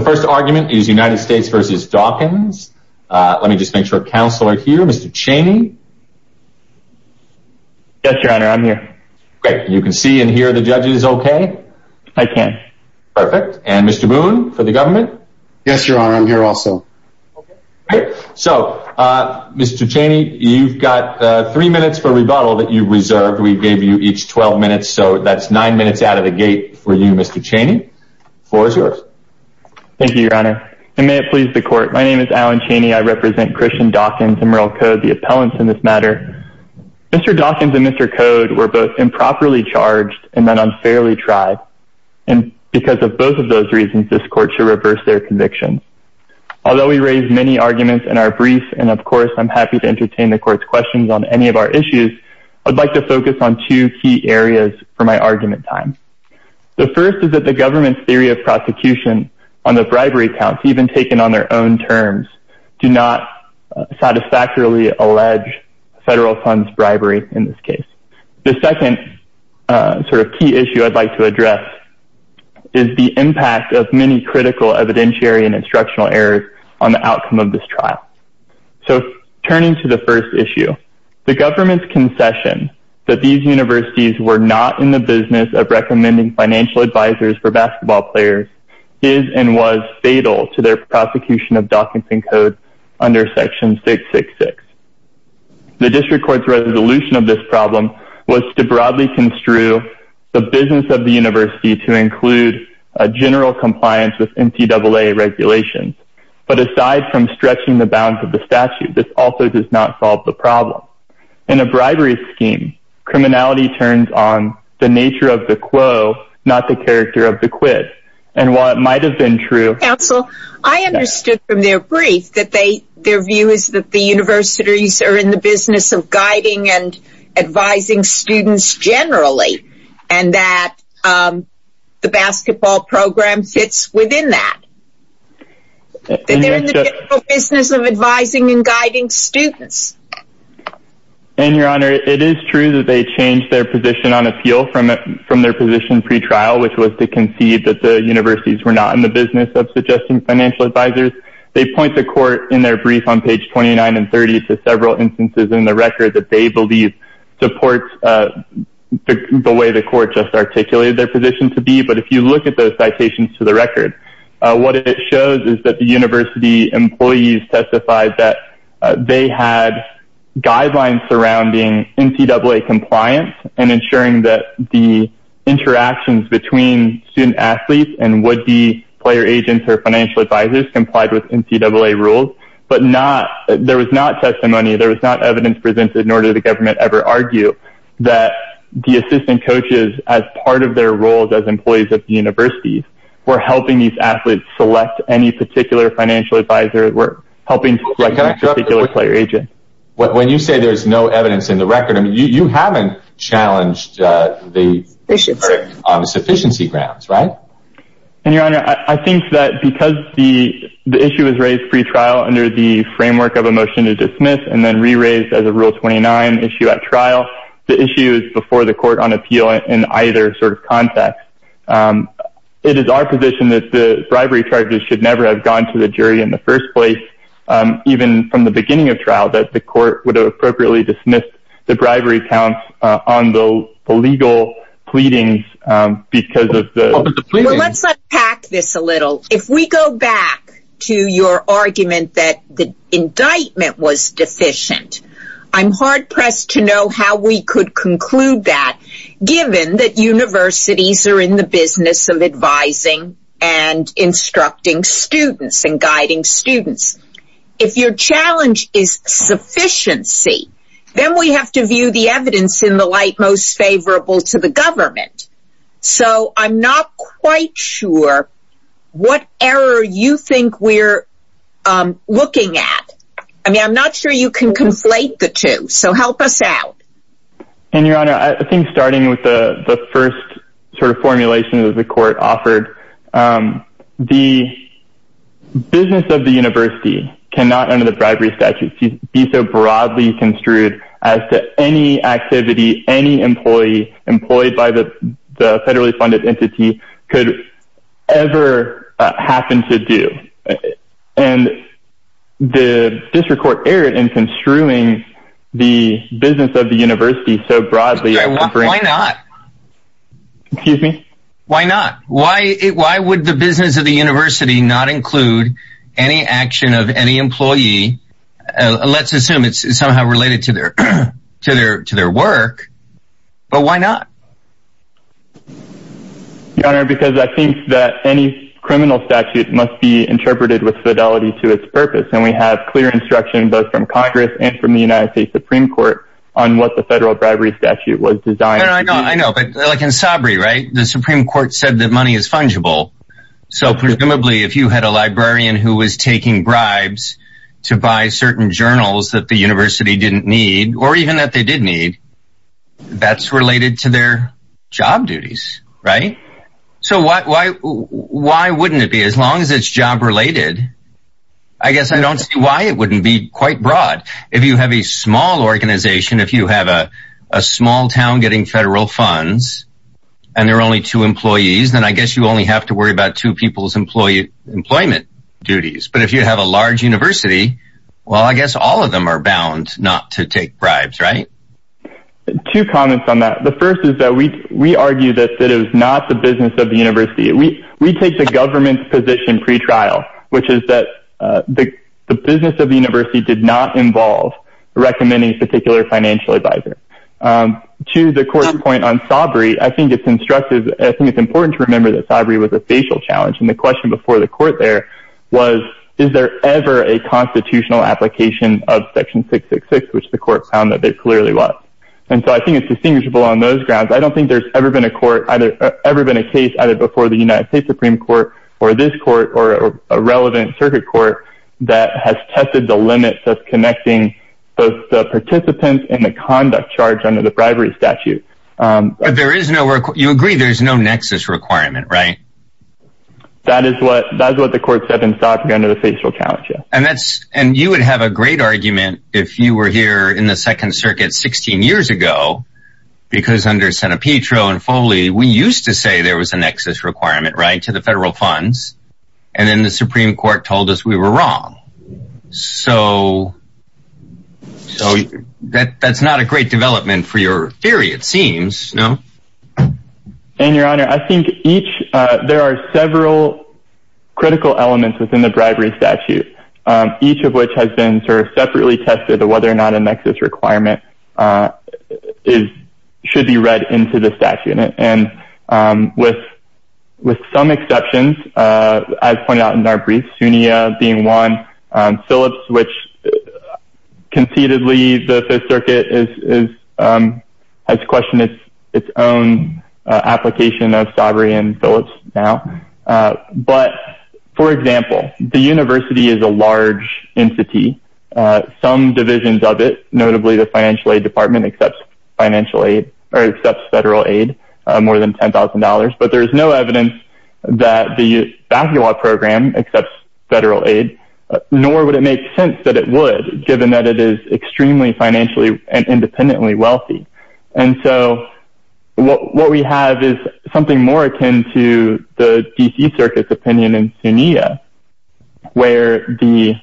The first argument is United States v. Dawkins. Let me just make sure counsel are here. Mr. Cheney. Yes, your honor. I'm here. You can see and hear the judges okay? I can. Perfect. And Mr. Boone for the government? Yes, your honor. I'm here also. So Mr. Cheney, you've got three minutes for rebuttal that you reserved. We gave you each 12 minutes. So that's nine minutes out of the gate for you, Mr. Cheney. The floor is yours. Thank you, your honor. And may it please the court. My name is Alan Cheney. I represent Christian Dawkins and Murrell Code, the appellants in this matter. Mr. Dawkins and Mr. Code were both improperly charged and then unfairly tried. And because of both of those reasons, this court should reverse their conviction. Although we raised many arguments in our brief, and of course, I'm happy to entertain the court's questions on any of our issues. I'd like to focus on two key areas for my argument time. The first is that the government's theory of prosecution on the bribery counts, even taken on their own terms, do not satisfactorily allege federal funds bribery in this case. The second sort of key issue I'd like to address is the impact of many critical evidentiary and instructional errors on the outcome of this trial. So turning to the first issue, the government's concession that these universities were not in the business of recommending financial advisors for basketball players is and was fatal to their prosecution of Dawkins and Code under section 666. The district court's resolution of this problem was to broadly construe the business of the university to but aside from stretching the bounds of the statute, this also does not solve the problem. In a bribery scheme, criminality turns on the nature of the quo, not the character of the quid. And while it might have been true, counsel, I understood from their brief that they their view is that the universities are in the business of guiding and advising students generally, and that the basketball program fits within that. And they're in the business of advising and guiding students. And Your Honor, it is true that they changed their position on appeal from from their position pre trial, which was to concede that the universities were not in the business of suggesting financial advisors. They point to court in their brief on page 29 and 30 to several instances in the record that they believe supports the way the court just articulated their position to be but if you look at those citations to the record, what it shows is that the university employees testified that they had guidelines surrounding NCAA compliance and ensuring that the interactions between student athletes and would be player agents or financial advisors complied with NCAA rules, but not there was not testimony there was not evidence presented nor did the government ever argue that the assistant coaches as part of their roles as employees of the universities were helping these athletes select any particular financial advisor were helping to select a particular player agent. When you say there's no evidence in the record, I mean, you haven't challenged the issue on sufficiency grounds, right? And Your Honor, I think that because the issue is raised pre trial under the framework of the motion to dismiss and then re raised as a rule 29 issue at trial, the issue is before the court on appeal in either sort of context. It is our position that the bribery charges should never have gone to the jury in the first place. Even from the beginning of trial that the court would have appropriately dismissed the bribery counts on the legal pleadings because of the Let's unpack this a little. If we go back to your argument that the indictment was deficient, I'm hard pressed to know how we could conclude that given that universities are in the business of advising and instructing students and guiding students. If your challenge is sufficiency, then we have to view the evidence in the light most favorable to the government. So I'm not quite sure what error you think we're looking at. I mean, I'm not sure you can conflate the two. So help us out. And Your Honor, I think starting with the first sort of formulation of the court offered, the business of the university cannot under the bribery statute be so broadly construed as to any activity any employee employed by the federally funded entity could ever happen to do. And the district court erred in construing the business of the university so broadly. Why not? Excuse me? Why not? Why? Why would the business of the university not include any action of any employee? Let's assume it's somehow related to their to their to their work. But why not? Your Honor, because I think that any criminal statute must be interpreted with fidelity to its purpose. And we have clear instruction both from Congress and from the United States Supreme Court on what the federal bribery statute was designed. I know. I know. But like in Sabri, right? The Supreme Court said that money is fungible. So presumably, if you had a librarian who was taking bribes to buy certain journals that the university didn't need or even that they did need, that's related to their job duties. Right. So why wouldn't it be? As long as it's job related, I guess I don't see why it wouldn't be quite broad. If you have a small organization, if you have a small town getting federal funds and there are only two employees, then I guess you only have to worry about two people's employee employment duties. But if you have a large university, well, I guess all of them are bound not to take bribes. Right. Two comments on that. The first is that we we argue that it is not the business of the university. We we take the government's position pretrial, which is that the business of the university did not involve recommending a particular financial advisor to the court point on sobriety. I think it's instructive. I think it's important to remember that sobriety was a facial challenge. And the question before the court there was, is there ever a constitutional application of Section 666, which the court found that it clearly was? And so I think it's distinguishable on those grounds. I don't think there's ever been a court ever been a case either before the United States Supreme Court or this court or a relevant circuit court that has tested the limits of connecting both the participants in the conduct charge under the bribery statute. But there is no work. You agree there's no nexus requirement, right? That is what that's what the court said in Stockton under the facial challenge. And that's and you would have a great argument if you were here in the Second Circuit 16 years ago, because under San Pietro and Foley, we used to say there was a nexus requirement right to the federal funds. And then the Supreme Court told us we were wrong. So. So that's not a great development for your theory, it seems, no. And your honor, I think each there are several critical elements within the bribery statute, each of which has been sort of separately tested or whether or not a nexus requirement is should be read into the statute. And with with some exceptions, as pointed out in our briefs, Sunia being one Phillips, which conceitedly the circuit is has questioned its own application of Sovereign Phillips now. But for example, the university is a large entity. Some divisions of it, notably the financial aid department, accepts financial aid or federal aid more than ten thousand dollars. But there is no evidence that the program accepts federal aid, nor would it make sense that it would, given that it is extremely financially and independently wealthy. And so what we have is something more akin to the D.C. Circus opinion in Sunia, where the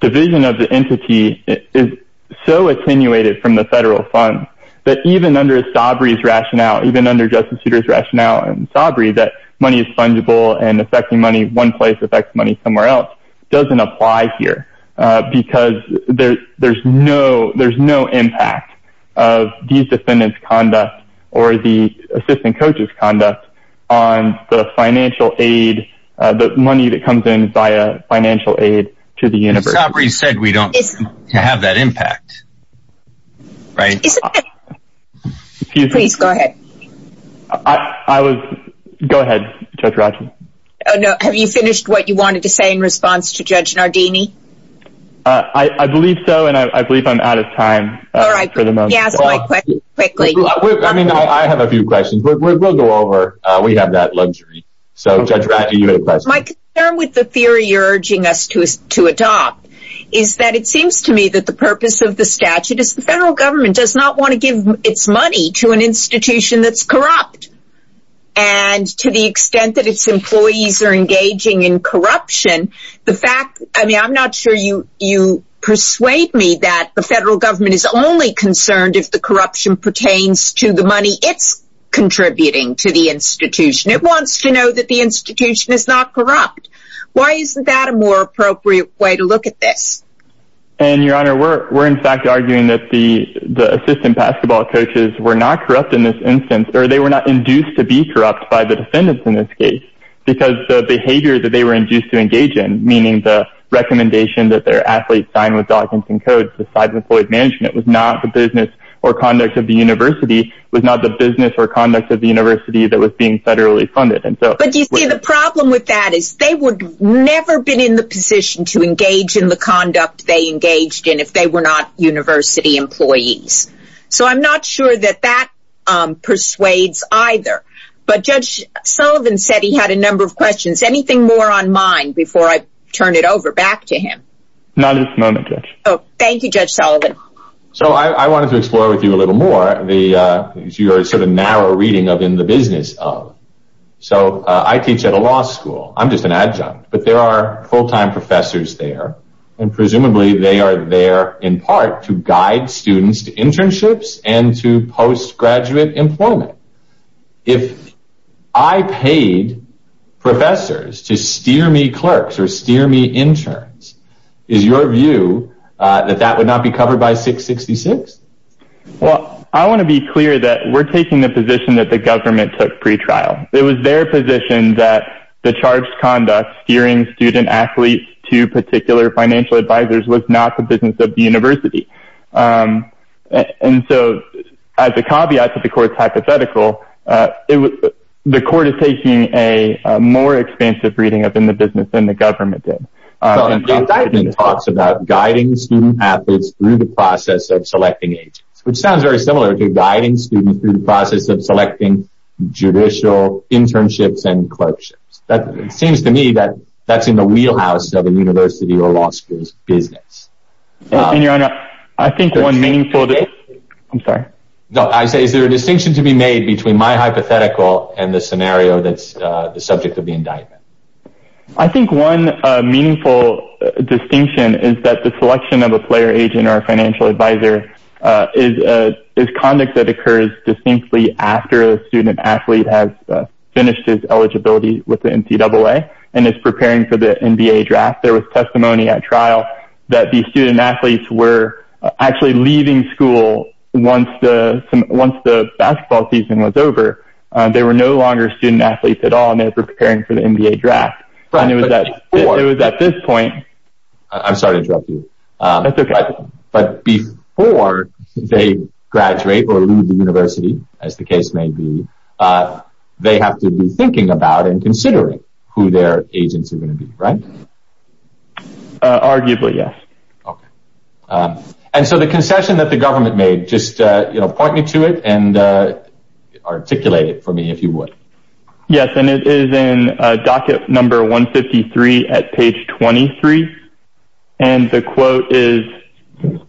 division of the entity is so attenuated from the rationale, even under Justice Souter's rationale and Sabri that money is fungible and affecting money. One place affects money somewhere else doesn't apply here because there's no there's no impact of these defendants conduct or the assistant coaches conduct on the financial aid, the money that comes in via financial aid to the universe. Sabri said we don't have that impact. Right. Please go ahead. I was. Go ahead. No. Have you finished what you wanted to say in response to Judge Nardini? I believe so. And I believe I'm out of time. All right. Yeah. Quickly. I mean, I have a few questions. We'll go over. We have that luxury. So judge. My concern with the theory you're urging us to to adopt is that it seems to me that the statute is the federal government does not want to give its money to an institution that's corrupt. And to the extent that its employees are engaging in corruption, the fact I mean, I'm not sure you you persuade me that the federal government is only concerned if the corruption pertains to the money it's contributing to the institution. It wants to know that the institution is not corrupt. Why isn't that a more appropriate way to look at this? And your honor, we're we're in fact arguing that the the assistant basketball coaches were not corrupt in this instance or they were not induced to be corrupt by the defendants in this case because the behavior that they were induced to engage in, meaning the recommendation that their athletes signed with Dawkinson Codes, the side employed management was not the business or conduct of the university, was not the business or conduct of the university that was being federally funded. And so. But you see, the problem with that is they would never been in the position to engage in the conduct they engaged in if they were not university employees. So I'm not sure that that persuades either. But Judge Sullivan said he had a number of questions. Anything more on mine before I turn it over back to him? Not at this moment. Oh, thank you, Judge Sullivan. So I wanted to explore with you a little more the sort of narrow reading of in the business. So I teach at a law school. I'm just an adjunct. But there are full time professors there. And presumably they are there in part to guide students to internships and to post graduate employment. If I paid professors to steer me, clerks or steer me, interns, is your view that that would not be covered by 666? Well, I want to be clear that we're taking the position that the government took pretrial. It was their position that the charged conduct steering student athletes to particular financial advisors was not the business of the university. And so as a caveat to the court's hypothetical, the court is taking a more expansive reading up in the business than the government did. And David talks about guiding student athletes through the process of selecting agents, which sounds very similar to guiding students through the process of selecting judicial internships and clerkships. That seems to me that that's in the wheelhouse of a university or law school's business. And your honor, I think one meaningful. I'm sorry. No, I say is there a distinction to be made between my hypothetical and the scenario that's the subject of the indictment? I think one meaningful distinction is that the selection of a player agent or financial advisor is conduct that occurs distinctly after a student athlete has finished his NCAA and is preparing for the NBA draft. There was testimony at trial that the student athletes were actually leaving school once the once the basketball season was over. They were no longer student athletes at all. And they're preparing for the NBA draft. But I knew that it was at this point. I'm sorry to interrupt you. But before they graduate or leave the university, as the case may be, they have to be who their agents are going to be, right? Arguably, yes. And so the concession that the government made just point me to it and articulate it for me, if you would. Yes. And it is in docket number 153 at page 23. And the quote is,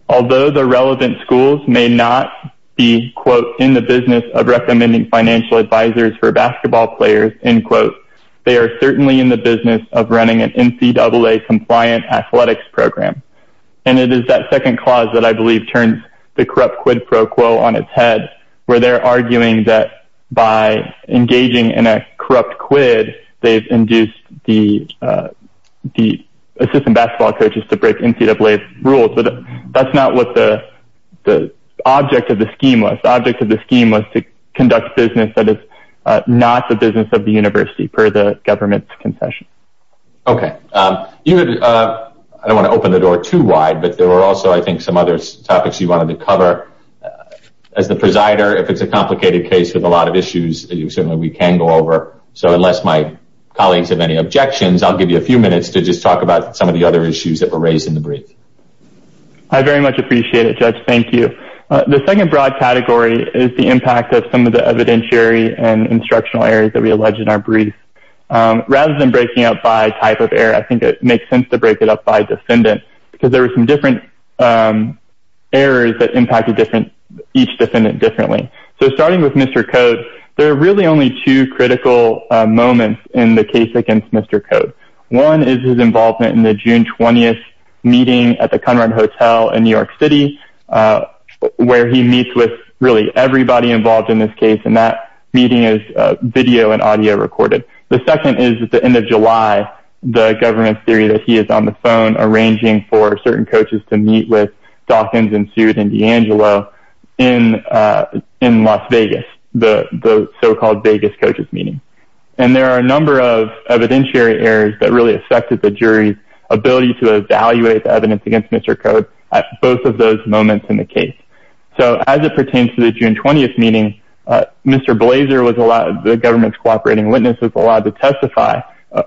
although the relevant schools may not be, quote, in the business of they're certainly in the business of running an NCAA compliant athletics program. And it is that second clause that I believe turns the corrupt quid pro quo on its head where they're arguing that by engaging in a corrupt quid, they've induced the the assistant basketball coaches to break NCAA rules. But that's not what the the object of the scheme was. Object of the scheme was to conduct business that is not the business of the university per the government's concession. OK, you know, I don't want to open the door too wide, but there are also, I think, some other topics you wanted to cover as the presider. If it's a complicated case with a lot of issues, certainly we can go over. So unless my colleagues have any objections, I'll give you a few minutes to just talk about some of the other issues that were raised in the brief. I very much appreciate it, Judge. Thank you. The second broad category is the impact of some of the evidentiary and rather than breaking up by type of error, I think it makes sense to break it up by defendant because there are some different errors that impact a different each defendant differently. So starting with Mr. Cote, there are really only two critical moments in the case against Mr. Cote. One is his involvement in the June 20th meeting at the Conrad Hotel in New York City, where he meets with really everybody involved in this case. And that meeting is video and audio recorded. The second is at the end of July, the government's theory that he is on the phone arranging for certain coaches to meet with Dawkins and Seward and DeAngelo in Las Vegas, the so-called Vegas coaches meeting. And there are a number of evidentiary errors that really affected the jury's ability to evaluate the evidence against Mr. Cote at both of those moments in the case. So as it pertains to the June 20th meeting, Mr. Cote was allowed to testify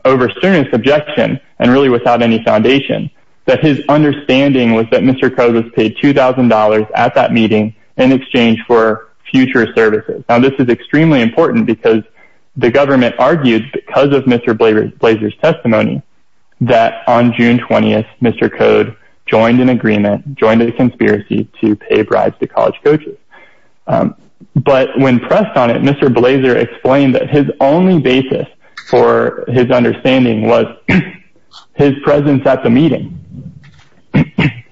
over serious objection and really without any foundation that his understanding was that Mr. Cote was paid two thousand dollars at that meeting in exchange for future services. Now, this is extremely important because the government argued because of Mr. Blaser's testimony that on June 20th, Mr. Cote joined an agreement, joined a conspiracy to pay bribes to college coaches. But when pressed on it, Mr. Blaser explained that his only basis for his understanding was his presence at the meeting.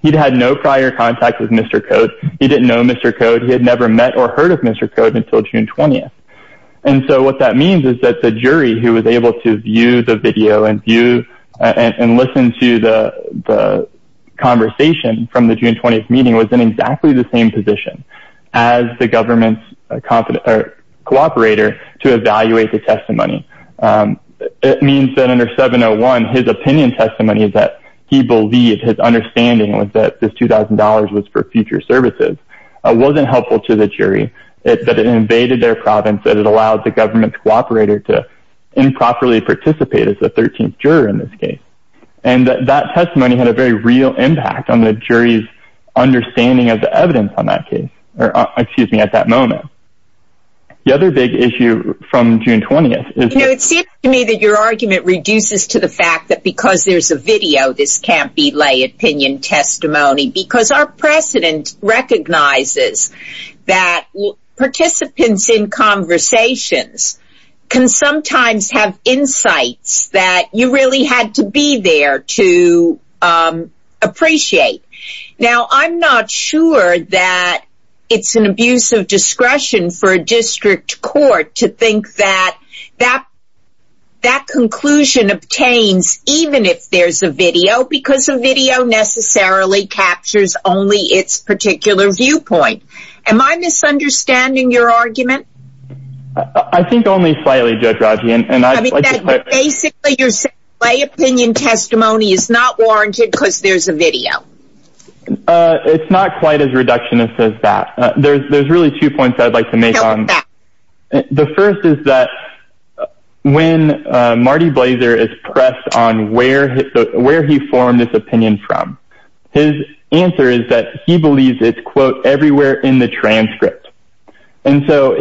He'd had no prior contact with Mr. Cote. He didn't know Mr. Cote. He had never met or heard of Mr. Cote until June 20th. And so what that means is that the jury, who was able to view the video and view and listen to the conversation from the June 20th meeting, was in exactly the same position as the government's competent or cooperator to evaluate the testimony. It means that under 701, his opinion testimony is that he believed his understanding was that this two thousand dollars was for future services, wasn't helpful to the jury, that it invaded their province, that it allowed the government's cooperator to improperly participate as the 13th juror in this case. And that testimony had a very real impact on the jury's understanding of the evidence on that case. Or excuse me, at that moment. The other big issue from June 20th is. You know, it seems to me that your argument reduces to the fact that because there's a video, this can't be lay opinion testimony because our president recognizes that participants in conversations can sometimes have insights that you really had to be there to appreciate. Now, I'm not sure that it's an abuse of discretion for a district court to think that that that conclusion obtains, even if there's a video, because a video necessarily captures only its particular viewpoint. Am I misunderstanding your argument? I think only slightly, Judge Rogge. And I mean, basically, your lay opinion testimony is not warranted because there's a video. It's not quite as reductionist as that. There's there's really two points I'd like to make on that. The first is that when Marty Blazer is pressed on where where he formed this opinion from, his answer is that he believes it's, quote, everywhere in the transcript. And so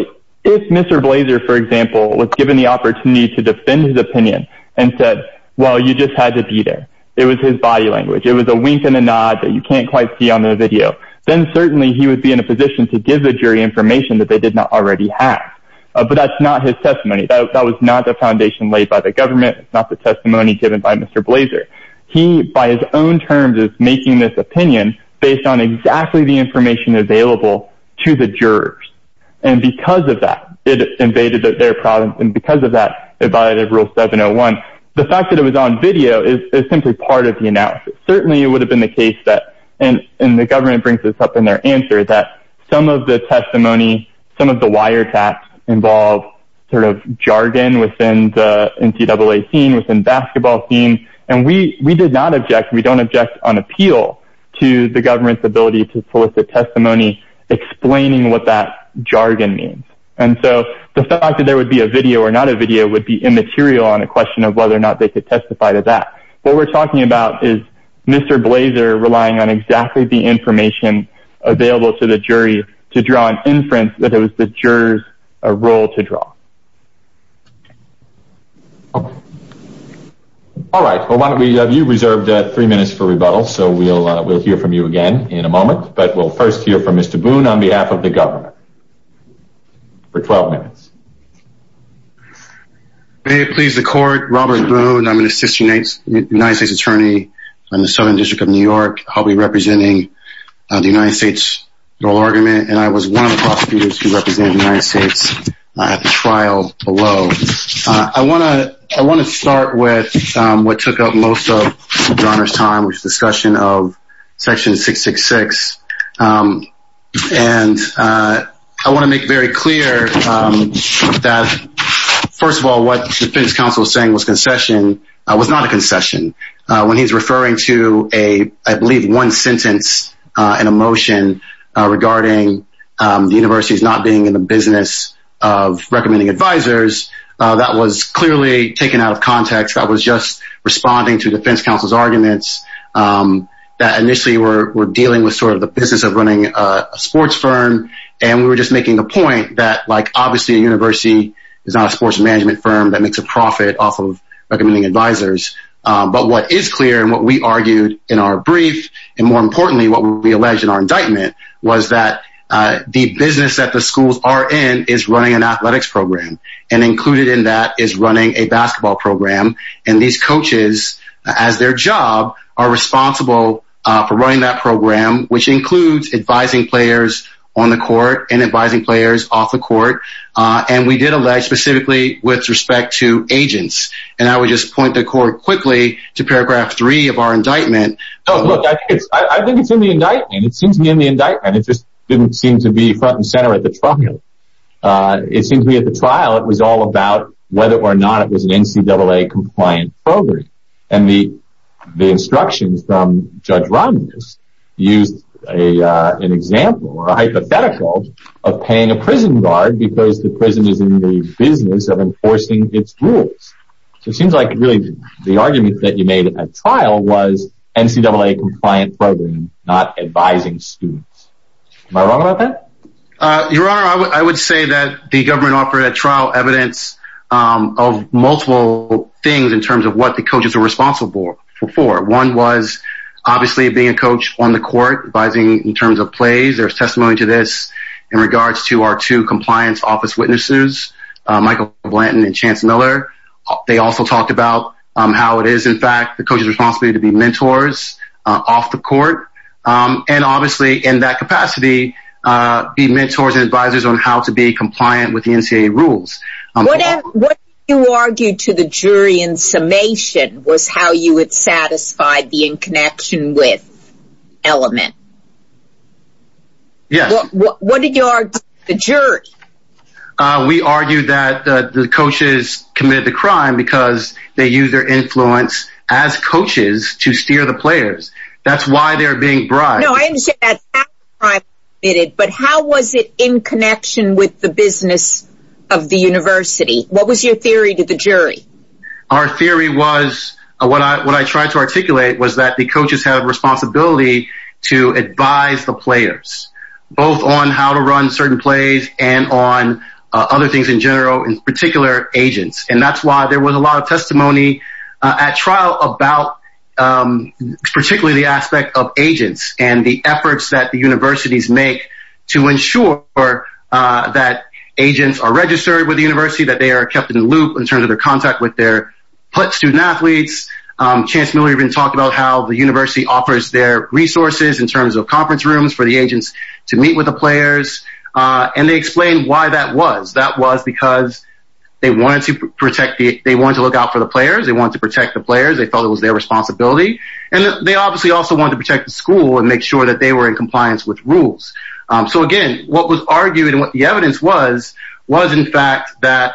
if Mr. Blazer, for example, was given the opportunity to defend his opinion and said, well, you just had to be there. It was his body language. It was a wink and a nod that you can't quite see on the video. Then certainly he would be in a position to give the jury information that they did not already have. But that's not his testimony. That was not the foundation laid by the government, not the testimony given by Mr. Blazer. He, by his own terms, is making this opinion based on exactly the information available to the jurors. And because of that, it invaded their province. And because of that, it violated rule 701. The fact that it was on video is simply part of the analysis. Certainly it would have been the case that and the government brings this up in their answer, that some of the testimony, some of the wiretaps involve sort of jargon within the NCAA scene, within basketball team. And we we did not object. We don't object on appeal to the government's ability to solicit testimony explaining what that jargon means. And so the fact that there would be a video or not a video would be immaterial on a question of whether or not they could testify to that. What we're talking about is Mr. Blazer relying on exactly the information available to the jury to draw an inference that it was the jurors a role to draw. All right, why don't we have you reserved three minutes for rebuttal, so we'll we'll hear from you again in a moment, but we'll first hear from Mr. Boone on behalf of the government. For 12 minutes. May it please the court, Robert Boone, I'm an assistant United States attorney on the Southern District of New York. I'll be representing the United States oral argument, and I was one of the prosecutors who represented the United States at the trial below. I want to I want to start with what took up most of John's time, which discussion of Section 666. And I want to make very clear that, first of all, what the defense counsel saying was concession was not a concession when he's referring to a I believe one sentence in a motion regarding the universities not being in the business of recommending advisors. That was clearly taken out of context. I was just responding to defense counsel's arguments that initially were dealing with sort of the business of running a sports firm. And we were just making the point that, like, obviously, a university is not a sports management firm that makes a profit off of recommending advisors. But what is clear and what we argued in our brief and more importantly, what we alleged in our indictment was that the business that the schools are in is running an athletics program and included in that is running a basketball program. And these coaches, as their job, are responsible for running that program, which includes advising players on the court and advising players off the court. And we did allege specifically with respect to agents. And I would just point the court quickly to paragraph three of our indictment. Oh, look, I think it's in the indictment. It seems to be in the indictment. It just didn't seem to be front and center at the trial. It seems to me at the trial, it was all about whether or not it was an NCAA compliant program. And the the instructions from Judge Romney just used an example or a hypothetical of paying a prison guard because the prison is in the business of enforcing its rules. So it seems like really the argument that you made at trial was NCAA compliant program, not advising students. Am I wrong about that? Your Honor, I would say that the government offered a trial evidence of multiple things in terms of what the coaches are responsible for. One was obviously being a coach on the court, advising in terms of plays. There's testimony to this in regards to our two compliance office witnesses, Michael Blanton and Chance Miller. They also talked about how it is, in fact, the coach's responsibility to be mentors off the court and obviously in that capacity, be mentors and advisors on how to be compliant with the NCAA rules. What you argue to the jury in summation was how you would satisfy the in connection with element. Yes. What did you argue the jury? We argue that the coaches committed the crime because they use their influence as the players. That's why they're being bribed. No, I understand that. But how was it in connection with the business of the university? What was your theory to the jury? Our theory was what I what I tried to articulate was that the coaches have responsibility to advise the players both on how to run certain plays and on other things in general, in particular, agents. And that's why there was a lot of testimony at trial about particularly the aspect of agents and the efforts that the universities make to ensure that agents are registered with the university, that they are kept in the loop in terms of their contact with their student athletes. Chance Miller even talked about how the university offers their resources in terms of conference rooms for the agents to meet with the players. And they explained why that was. That was because they wanted to protect the they want to look out for the players. They want to protect the players. They thought it was their responsibility. And they obviously also want to protect the school and make sure that they were in compliance with rules. So, again, what was argued and what the evidence was, was, in fact, that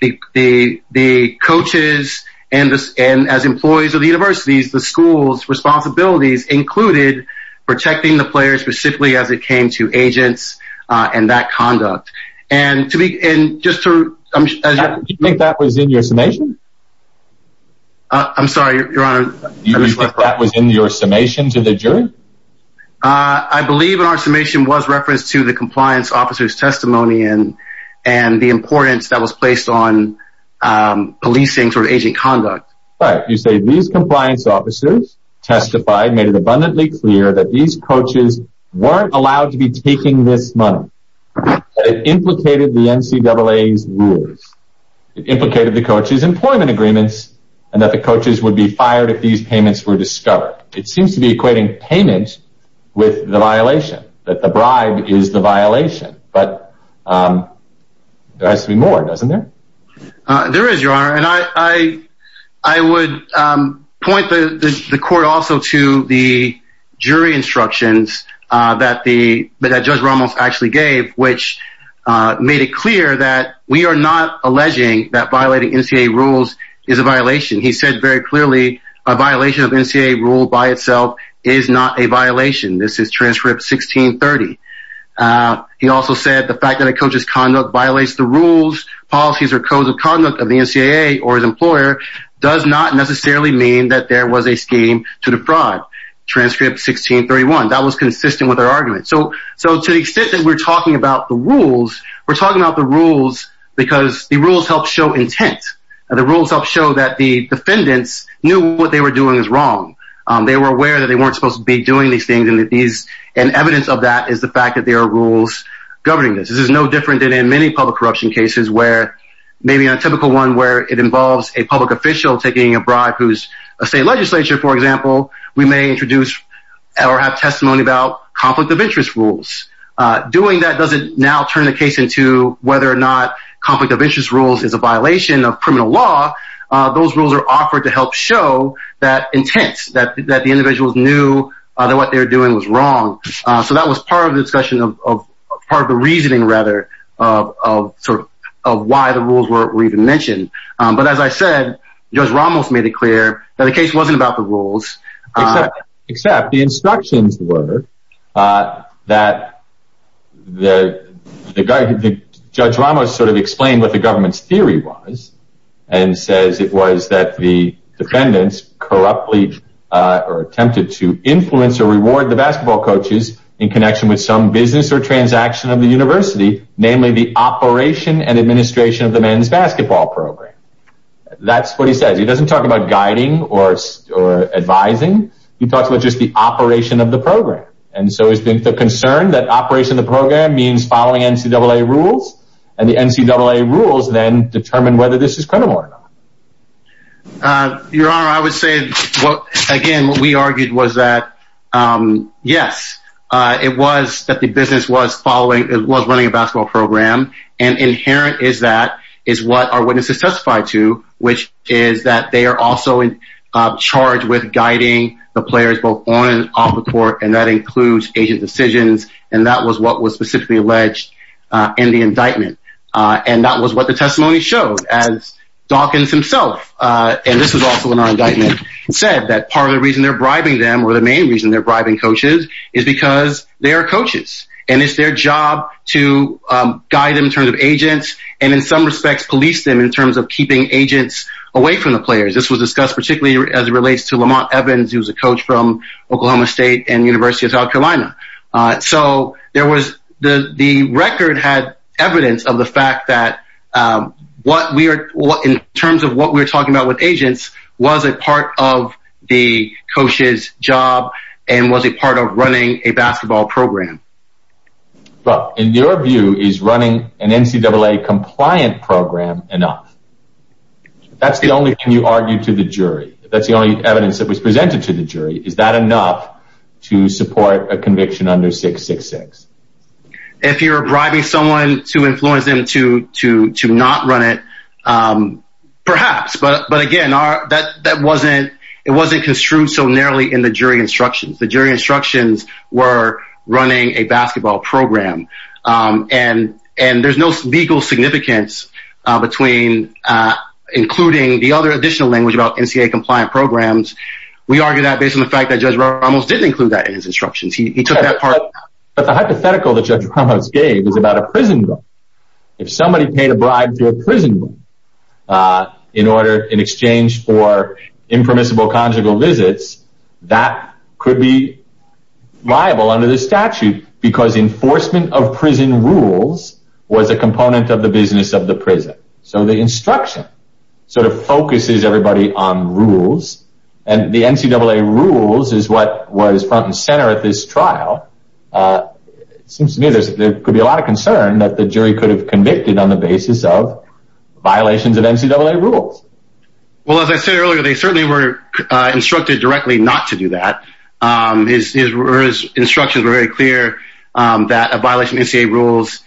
the the coaches and and as employees of the universities, the school's responsibilities included protecting the players, specifically as it came to agents and that conduct. And to be in just to make that was in your summation. I'm sorry, your honor, that was in your summation to the jury. I believe in our summation was reference to the compliance officers testimony and and the importance that was placed on policing for agent conduct. But you say these compliance officers testified, made it abundantly clear that these coaches weren't allowed to be taking this money implicated the NCAA rules, implicated the coaches employment agreements and that the coaches would be fired if these payments were discovered. It seems to be equating payment with the violation that the bribe is the violation. But there has to be more, doesn't there? There is, your honor. And I, I would point the court also to the jury instructions that the judge Ramos actually gave, which made it clear that we are not alleging that violating NCAA rules is a violation. He said very clearly a violation of NCAA rule by itself is not a violation. This is transfer of 1630. He also said the fact that a coach's conduct violates the rules, policies or codes of the NCAA or his employer does not necessarily mean that there was a scheme to defraud transcript 1631. That was consistent with our argument. So, so to the extent that we're talking about the rules, we're talking about the rules because the rules help show intent and the rules help show that the defendants knew what they were doing is wrong. They were aware that they weren't supposed to be doing these things and that these and evidence of that is the fact that there are rules governing this. This is no different than in many public corruption cases where maybe a typical one where it involves a public official taking a bribe who's a state legislature, for example, we may introduce or have testimony about conflict of interest rules. Doing that doesn't now turn the case into whether or not conflict of interest rules is a violation of criminal law. Those rules are offered to help show that intent that the individuals knew that what they were doing was wrong. So that was part of the discussion of part of the reasoning, rather, of sort of why the rules were even mentioned. But as I said, Judge Ramos made it clear that the case wasn't about the rules, except the instructions were that the judge Ramos sort of explained what the government's theory was and says it was that the defendants corruptly attempted to influence or mislead the coaches in connection with some business or transaction of the university, namely the operation and administration of the men's basketball program. That's what he says. He doesn't talk about guiding or advising. He talks about just the operation of the program. And so it's been the concern that operation of the program means following NCAA rules and the NCAA rules then determine whether this is credible or not. Your Honor, I would say, again, what we argued was that, yes, it was that the business was following it was running a basketball program. And inherent is that is what our witnesses testified to, which is that they are also charged with guiding the players both on and off the court. And that includes agent decisions. And that was what was specifically alleged in the indictment. And that was what the testimony showed as Dawkins himself. And this was also in our indictment said that part of the reason they're bribing them or the main reason they're bribing coaches is because they are coaches and it's their job to guide them in terms of agents and in some respects police them in terms of keeping agents away from the players. This was discussed particularly as it relates to Lamont Evans, who's a coach from Oklahoma State and University of South Carolina. So there was the record had evidence of the fact that what we are in terms of what we are talking about with agents was a part of the coach's job and was a part of running a basketball program. But in your view, is running an NCAA compliant program enough? That's the only thing you argue to the jury. That's the only evidence that was presented to the jury. Is that enough to support a conviction under 666? If you're bribing someone to influence them to to to not run it, perhaps. But but again, that that wasn't it wasn't construed so narrowly in the jury instructions, the jury instructions were running a basketball program and and there's no legal significance between including the other additional language about NCAA compliant programs. We argue that based on the fact that Judge Ramos didn't include that in his hypothetical that Judge Ramos gave is about a prison. If somebody paid a bribe to a prison in order in exchange for impermissible conjugal visits, that could be liable under the statute because enforcement of prison rules was a component of the business of the prison. So the instruction sort of focuses everybody on rules and the NCAA rules is what was front and center at this trial. Seems to me there could be a lot of concern that the jury could have convicted on the basis of violations of NCAA rules. Well, as I said earlier, they certainly were instructed directly not to do that. His instructions were very clear that a violation of NCAA rules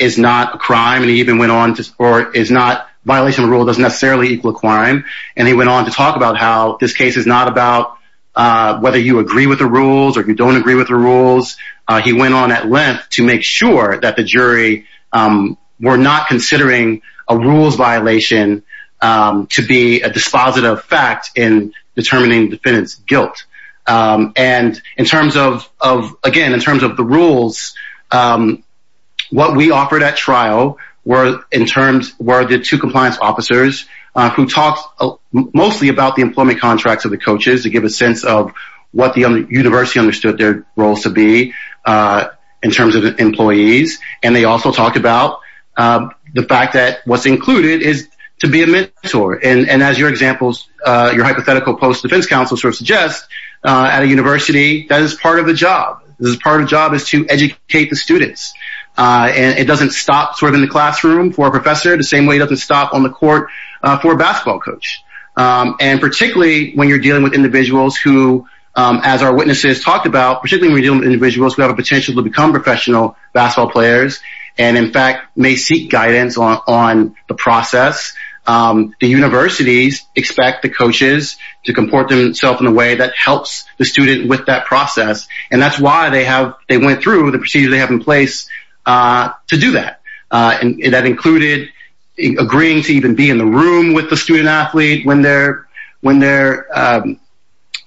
is not a crime. And he even went on to or is not violation of the rule doesn't necessarily equal a crime. And he went on to talk about how this case is not about whether you agree with the rules or you don't agree with the rules. He went on at length to make sure that the jury were not considering a rules violation to be a dispositive fact in determining defendant's guilt. And in terms of of again, in terms of the rules, what we offered at trial were in terms were the two compliance officers who talked mostly about the employment contracts of the coaches to give a sense of what the university understood their role to be in terms of employees. And they also talked about the fact that what's included is to be a mentor. And as your examples, your hypothetical post-defense counsel sort of suggests at a university, that is part of the job. And it doesn't stop sort of in the classroom for a professor the same way it doesn't stop on the court for a basketball coach. And particularly when you're dealing with individuals who, as our witnesses talked about, particularly when you're dealing with individuals who have a potential to become professional basketball players and in fact may seek guidance on the process, the universities expect the coaches to comport themselves in a way that helps the student with that process. And that's why they have they went through the procedure they have in place to do that. And that included agreeing to even be in the room with the student athlete when they're when they're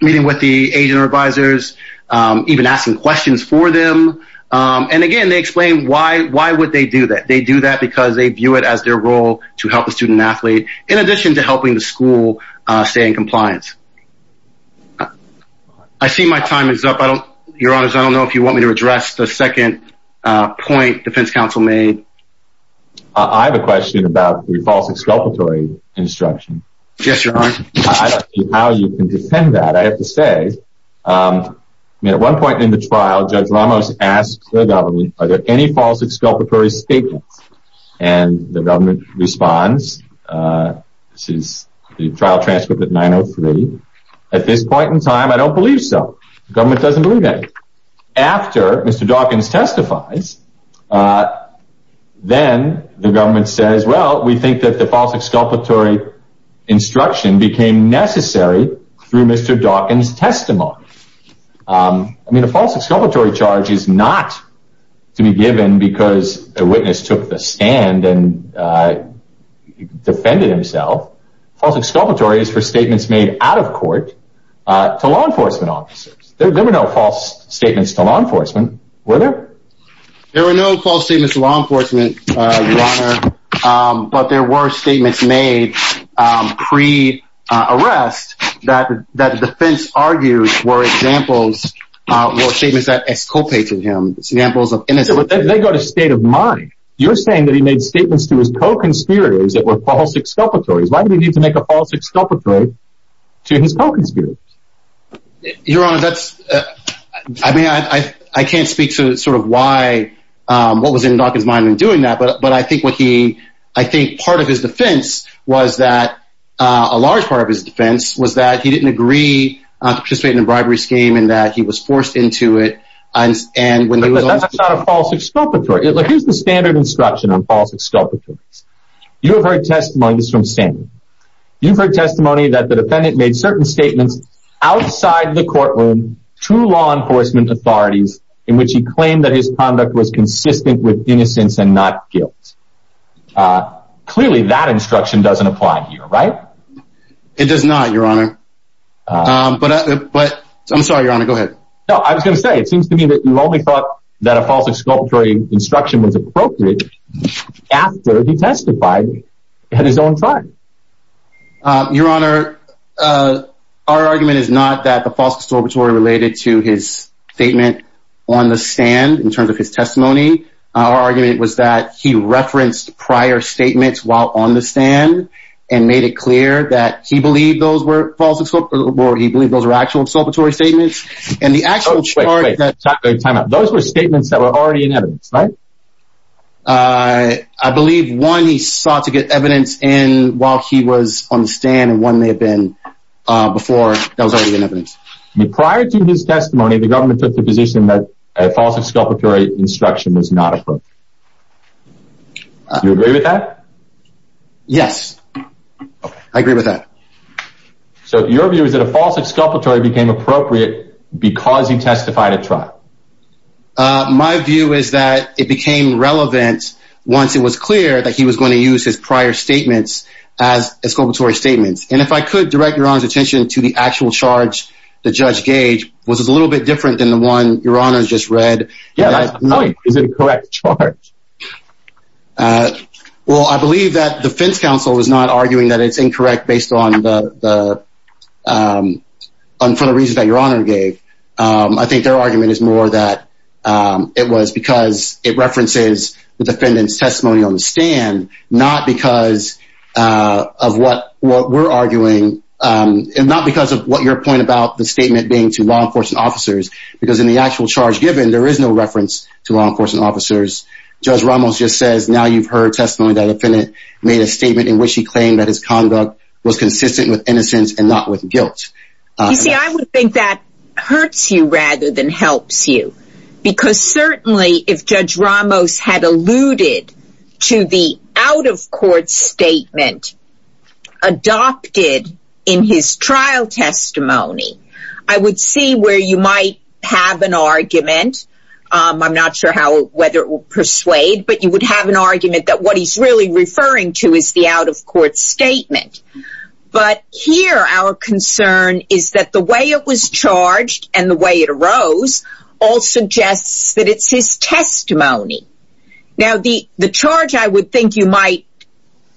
meeting with the agent or advisors, even asking questions for them. And again, they explain why why would they do that? They do that because they view it as their role to help the student athlete in addition to helping the school stay in compliance. I see my time is up. Your Honor, I don't know if you want me to address the second point defense counsel made. I have a question about the false exculpatory instruction. Yes, your honor. How you can defend that? I have to say at one point in the trial, Judge Ramos asked the government, are there any false exculpatory statements? And the government responds. This is the trial transcript that 903 at this point in time, I don't believe so. The government doesn't believe that after Mr. Dawkins testifies, then the government says, well, we think that the false exculpatory instruction became necessary through Mr. Dawkins testimony. I mean, a false exculpatory charge is not to be given because a witness took the stand and defended himself. False exculpatory is for statements made out of court to law enforcement officers. There were no false statements to law enforcement, were there? There were no false statements to law enforcement, your honor, but there were statements made pre-arrest that the defense argued were examples, were statements that exculpated him, examples of innocence. But they got a state of mind. You're saying that he made statements to his co-conspirators that were false exculpatories. Why did he need to make a false exculpatory to his co-conspirators? Your honor, that's I mean, I can't speak to sort of why what was in Dawkins mind in doing that. But I think what he I think part of his defense was that a large part of his defense was that he didn't agree to participate in a bribery scheme and that he was forced into it. And when he was on a false exculpatory, here's the standard instruction on false exculpatory. You have heard testimonies from standing. You've heard testimony that the defendant made certain statements outside the courtroom to law enforcement authorities in which he claimed that his conduct was consistent with innocence and not guilt. Clearly, that instruction doesn't apply here, right? It does not, your honor. But but I'm sorry, your honor. Go ahead. I was going to say, it seems to me that you only thought that a false exculpatory instruction was appropriate after he testified at his own time. Your honor, our argument is not that the false exculpatory related to his statement on the stand in terms of his testimony. Our argument was that he referenced prior statements while on the stand and made it clear that he believed those were false or he believed those were actual exculpatory statements. And the actual time those were statements that were already in evidence, right? I believe one, he sought to get evidence in while he was on the stand and one may have been before that was already in evidence. Prior to his testimony, the government took the position that a false exculpatory instruction was not appropriate. You agree with that? Yes, I agree with that. So your view is that a false exculpatory became appropriate because he testified at it became relevant once it was clear that he was going to use his prior statements as exculpatory statements. And if I could direct your attention to the actual charge, the judge gauge was a little bit different than the one your honor's just read. Yeah, I know. Is it a correct charge? Well, I believe that the Fence Council is not arguing that it's incorrect based on the for the reasons that your honor gave. I think their argument is more that it was because it references the defendant's testimony on the stand, not because of what what we're arguing and not because of what your point about the statement being to law enforcement officers, because in the actual charge given, there is no reference to law enforcement officers. Judge Ramos just says now you've heard testimony that the defendant made a statement in which he claimed that his conduct was consistent with innocence and not with guilt. You see, I would think that hurts you rather than helps you, because certainly if Judge Ramos had alluded to the out of court statement adopted in his trial testimony, I would see where you might have an argument. I'm not sure how whether it will persuade, but you would have an argument that what he's really referring to is the out of court statement. But here our concern is that the way it was charged and the way it arose all suggests that it's his testimony. Now, the the charge I would think you might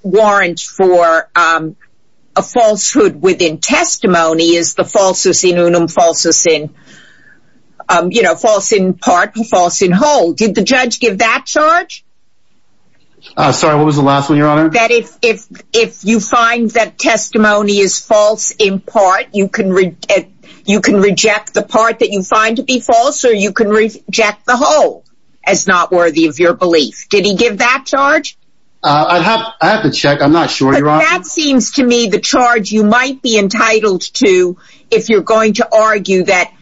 warrant for a falsehood within testimony is the falsus in unum, falsus in, you know, false in part, false in whole. Did the judge give that charge? Sorry, what was the last one, your honor? That if if if you find that testimony is false in part, you can you can reject the part that you find to be false or you can reject the whole as not worthy of your belief. Did he give that charge? I have I have to check. I'm not sure you're on. That seems to me the charge you might be entitled to if you're going to argue that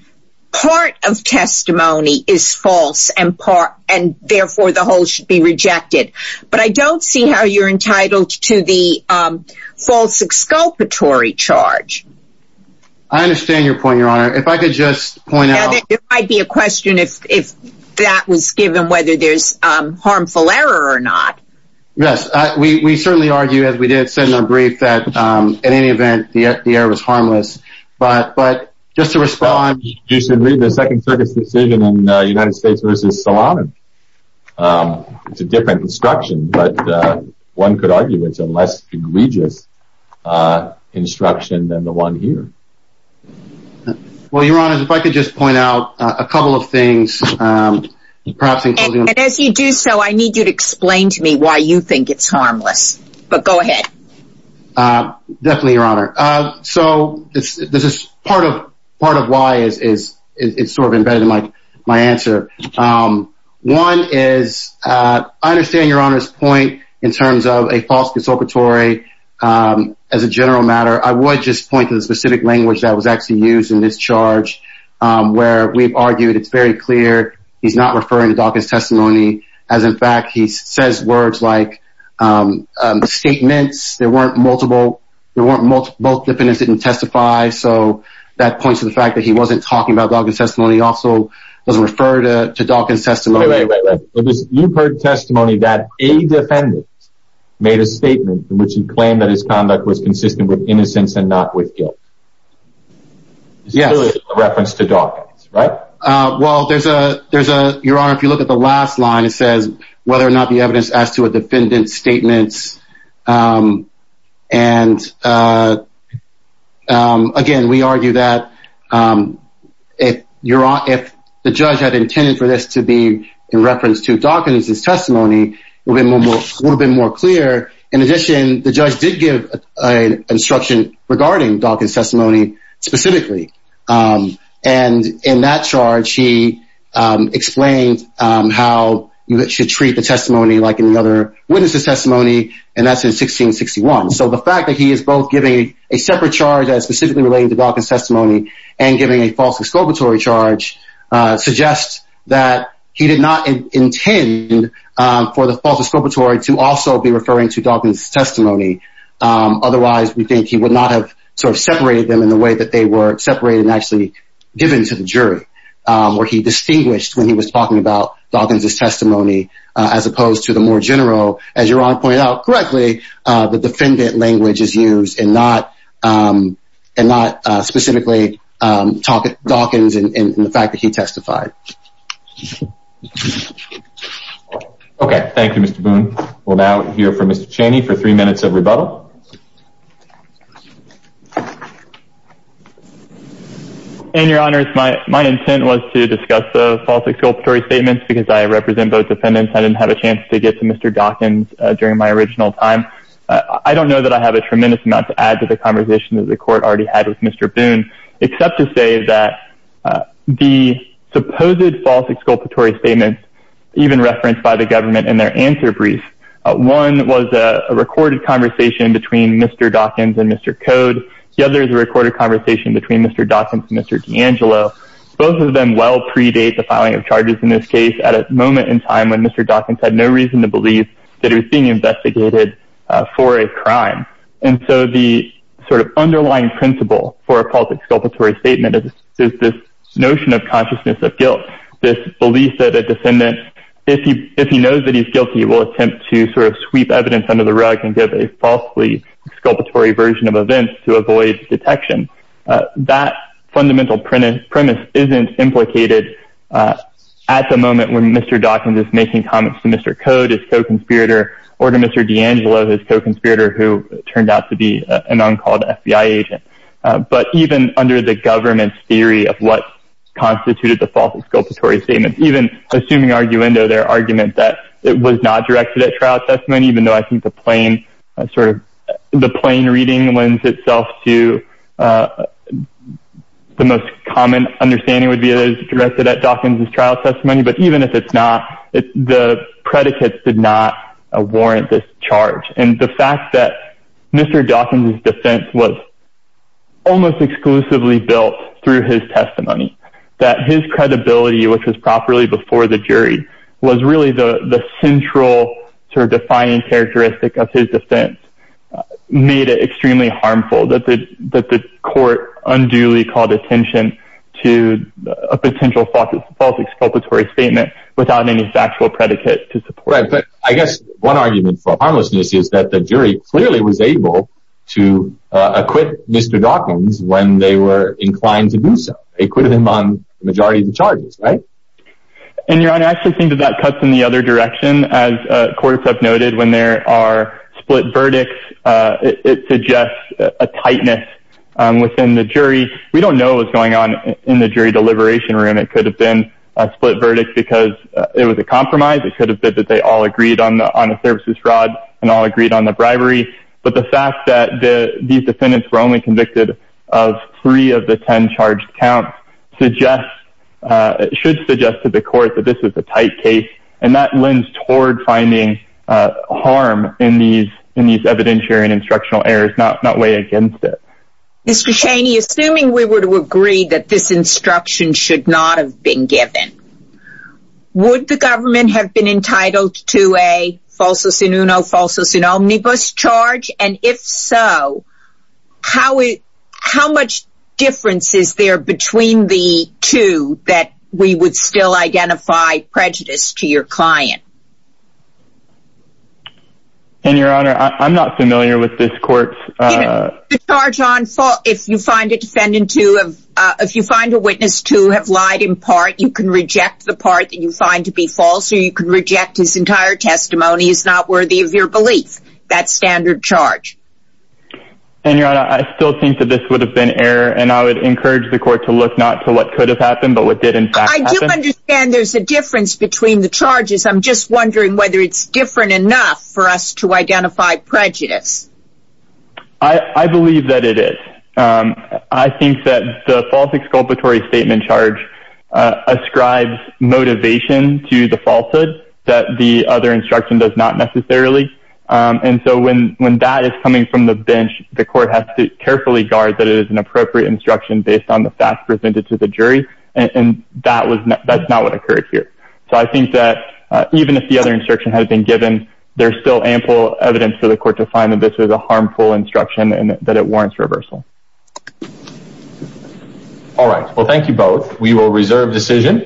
part of testimony is false and part and therefore the whole should be rejected. But I don't see how you're entitled to the false exculpatory charge. I understand your point, your honor, if I could just point out, it might be a question if if that was given, whether there's harmful error or not. Yes, we certainly argue, as we did say in our brief, that in any event, the error was harmless. But but just to respond, you should read the Second Circuit's decision in the United States versus Solano. It's a different instruction, but one could argue it's a less egregious instruction than the one here. Well, your honor, if I could just point out a couple of things, perhaps including. And as you do so, I need you to explain to me why you think it's harmless. But go ahead. Definitely, your honor. So this is part of part of why is it's sort of embedded in my answer. One is I understand your honor's point in terms of a false exculpatory. As a general matter, I would just point to the specific language that was actually used in this charge where we've argued it's very clear he's not referring to Dawkins testimony, as in fact, he says words like statements. There weren't multiple. There weren't multiple. Both defendants didn't testify. So that points to the fact that he wasn't talking about Dawkins testimony. Also doesn't refer to Dawkins testimony. Wait, wait, wait, wait. You've heard testimony that a defendant made a statement in which he claimed that his conduct was consistent with innocence and not with guilt. Yes, a reference to Dawkins, right? Well, there's a there's a your honor. If you look at the last line, it says whether or not the evidence as to a defendant statements. And again, we argue that if you're on if the judge had intended for this to be in reference to Dawkins, his testimony would have been more clear. In addition, the judge did give an instruction regarding Dawkins testimony specifically. And in that charge, he explained how you should treat the testimony like any other witness's testimony. And that's in 1661. So the fact that he is both giving a separate charge as specifically relating to Dawkins testimony and giving a false exculpatory charge suggests that he did not intend for the false exculpatory to also be referring to Dawkins testimony. Otherwise, we think he would not have sort of separated them in the way that they were separated and actually given to the jury where he distinguished when he was talking about Dawkins testimony, as opposed to the more general, as you're all pointed out correctly, the defendant language is used and not and not specifically talking about Dawkins and the fact that he testified. OK, thank you, Mr. Boone. We'll now hear from Mr. Chaney for three minutes of rebuttal. And your honors, my my intent was to discuss the false exculpatory statements because I represent both defendants. I didn't have a chance to get to Mr. Dawkins during my original time. I don't know that I have a tremendous amount to add to the conversation that the court already had with Mr. Boone, except to say that the supposed false exculpatory statements even referenced by the government in their answer brief. One was a recorded conversation between the defendant and the defendant's between Mr. Dawkins and Mr. Code. The other is a recorded conversation between Mr. Dawkins and Mr. D'Angelo. Both of them well predate the filing of charges in this case at a moment in time when Mr. Dawkins had no reason to believe that he was being investigated for a crime. And so the sort of underlying principle for a false exculpatory statement is this notion of consciousness of guilt, this belief that a defendant, if he if he knows that he's guilty, will attempt to sort of sweep evidence under the rug and give a falsely exculpatory version of events to avoid detection. That fundamental premise isn't implicated at the moment when Mr. Dawkins is making comments to Mr. Code, his co-conspirator, or to Mr. D'Angelo, his co-conspirator, who turned out to be an uncalled FBI agent. But even under the government's theory of what constituted the false exculpatory statement, even assuming arguendo their argument that it was not directed at trial testimony, even though I think the plain sort of the plain reading lends itself to the most common understanding would be it is directed at Dawkins' trial testimony. But even if it's not, the predicates did not warrant this charge. And the fact that Mr. Dawkins' defense was almost exclusively built through his testimony, that his credibility, which was properly before the jury, was really the the central sort of defiant characteristic of his defense, made it extremely harmful that the that the court unduly called attention to a potential false false exculpatory statement without any factual predicate to support. Right. But I guess one argument for harmlessness is that the jury clearly was able to acquit Mr. Dawkins when they were inclined to do so. They acquitted him on majority of the charges. Right. And your honor, I actually think that that cuts in the other direction. As courts have noted, when there are split verdicts, it suggests a tightness within the jury. We don't know what's going on in the jury deliberation room. It could have been a split verdict because it was a compromise. It could have been that they all agreed on the services fraud and all agreed on the bribery. But the fact that these defendants were only convicted of three of the 10 charged counts suggests it should suggest to the court that this is a tight case. And that lends toward finding harm in these in these evidentiary and instructional errors, not not way against it. Mr. Cheney, assuming we were to agree that this instruction should not have been given, would the government have been entitled to a falsus in uno falsus in omnibus charge? And if so, how how much difference is there between the two that we would still identify prejudice to your client? And your honor, I'm not familiar with this court's charge on fault. If you find a defendant to if you find a witness to have lied in part, you can reject the part that you find to be false. So you can reject his entire testimony is not worthy of your belief. That standard charge. And your honor, I still think that this would have been error, and I would encourage the court to look not to what could have happened, but what did, in fact, I do understand there's a difference between the charges. I'm just wondering whether it's different enough for us to identify prejudice. I believe that it is. I think that the false exculpatory statement charge ascribes motivation to the falsehood that the other instruction does not necessarily. And so when when that is coming from the bench, the court has to carefully guard that it is an appropriate instruction based on the facts presented to the jury. And that was that's not what occurred here. So I think that even if the other instruction had been given, there's still ample evidence for the court to find that this was a harmful instruction and that it warrants reversal. All right, well, thank you both. We will reserve decision.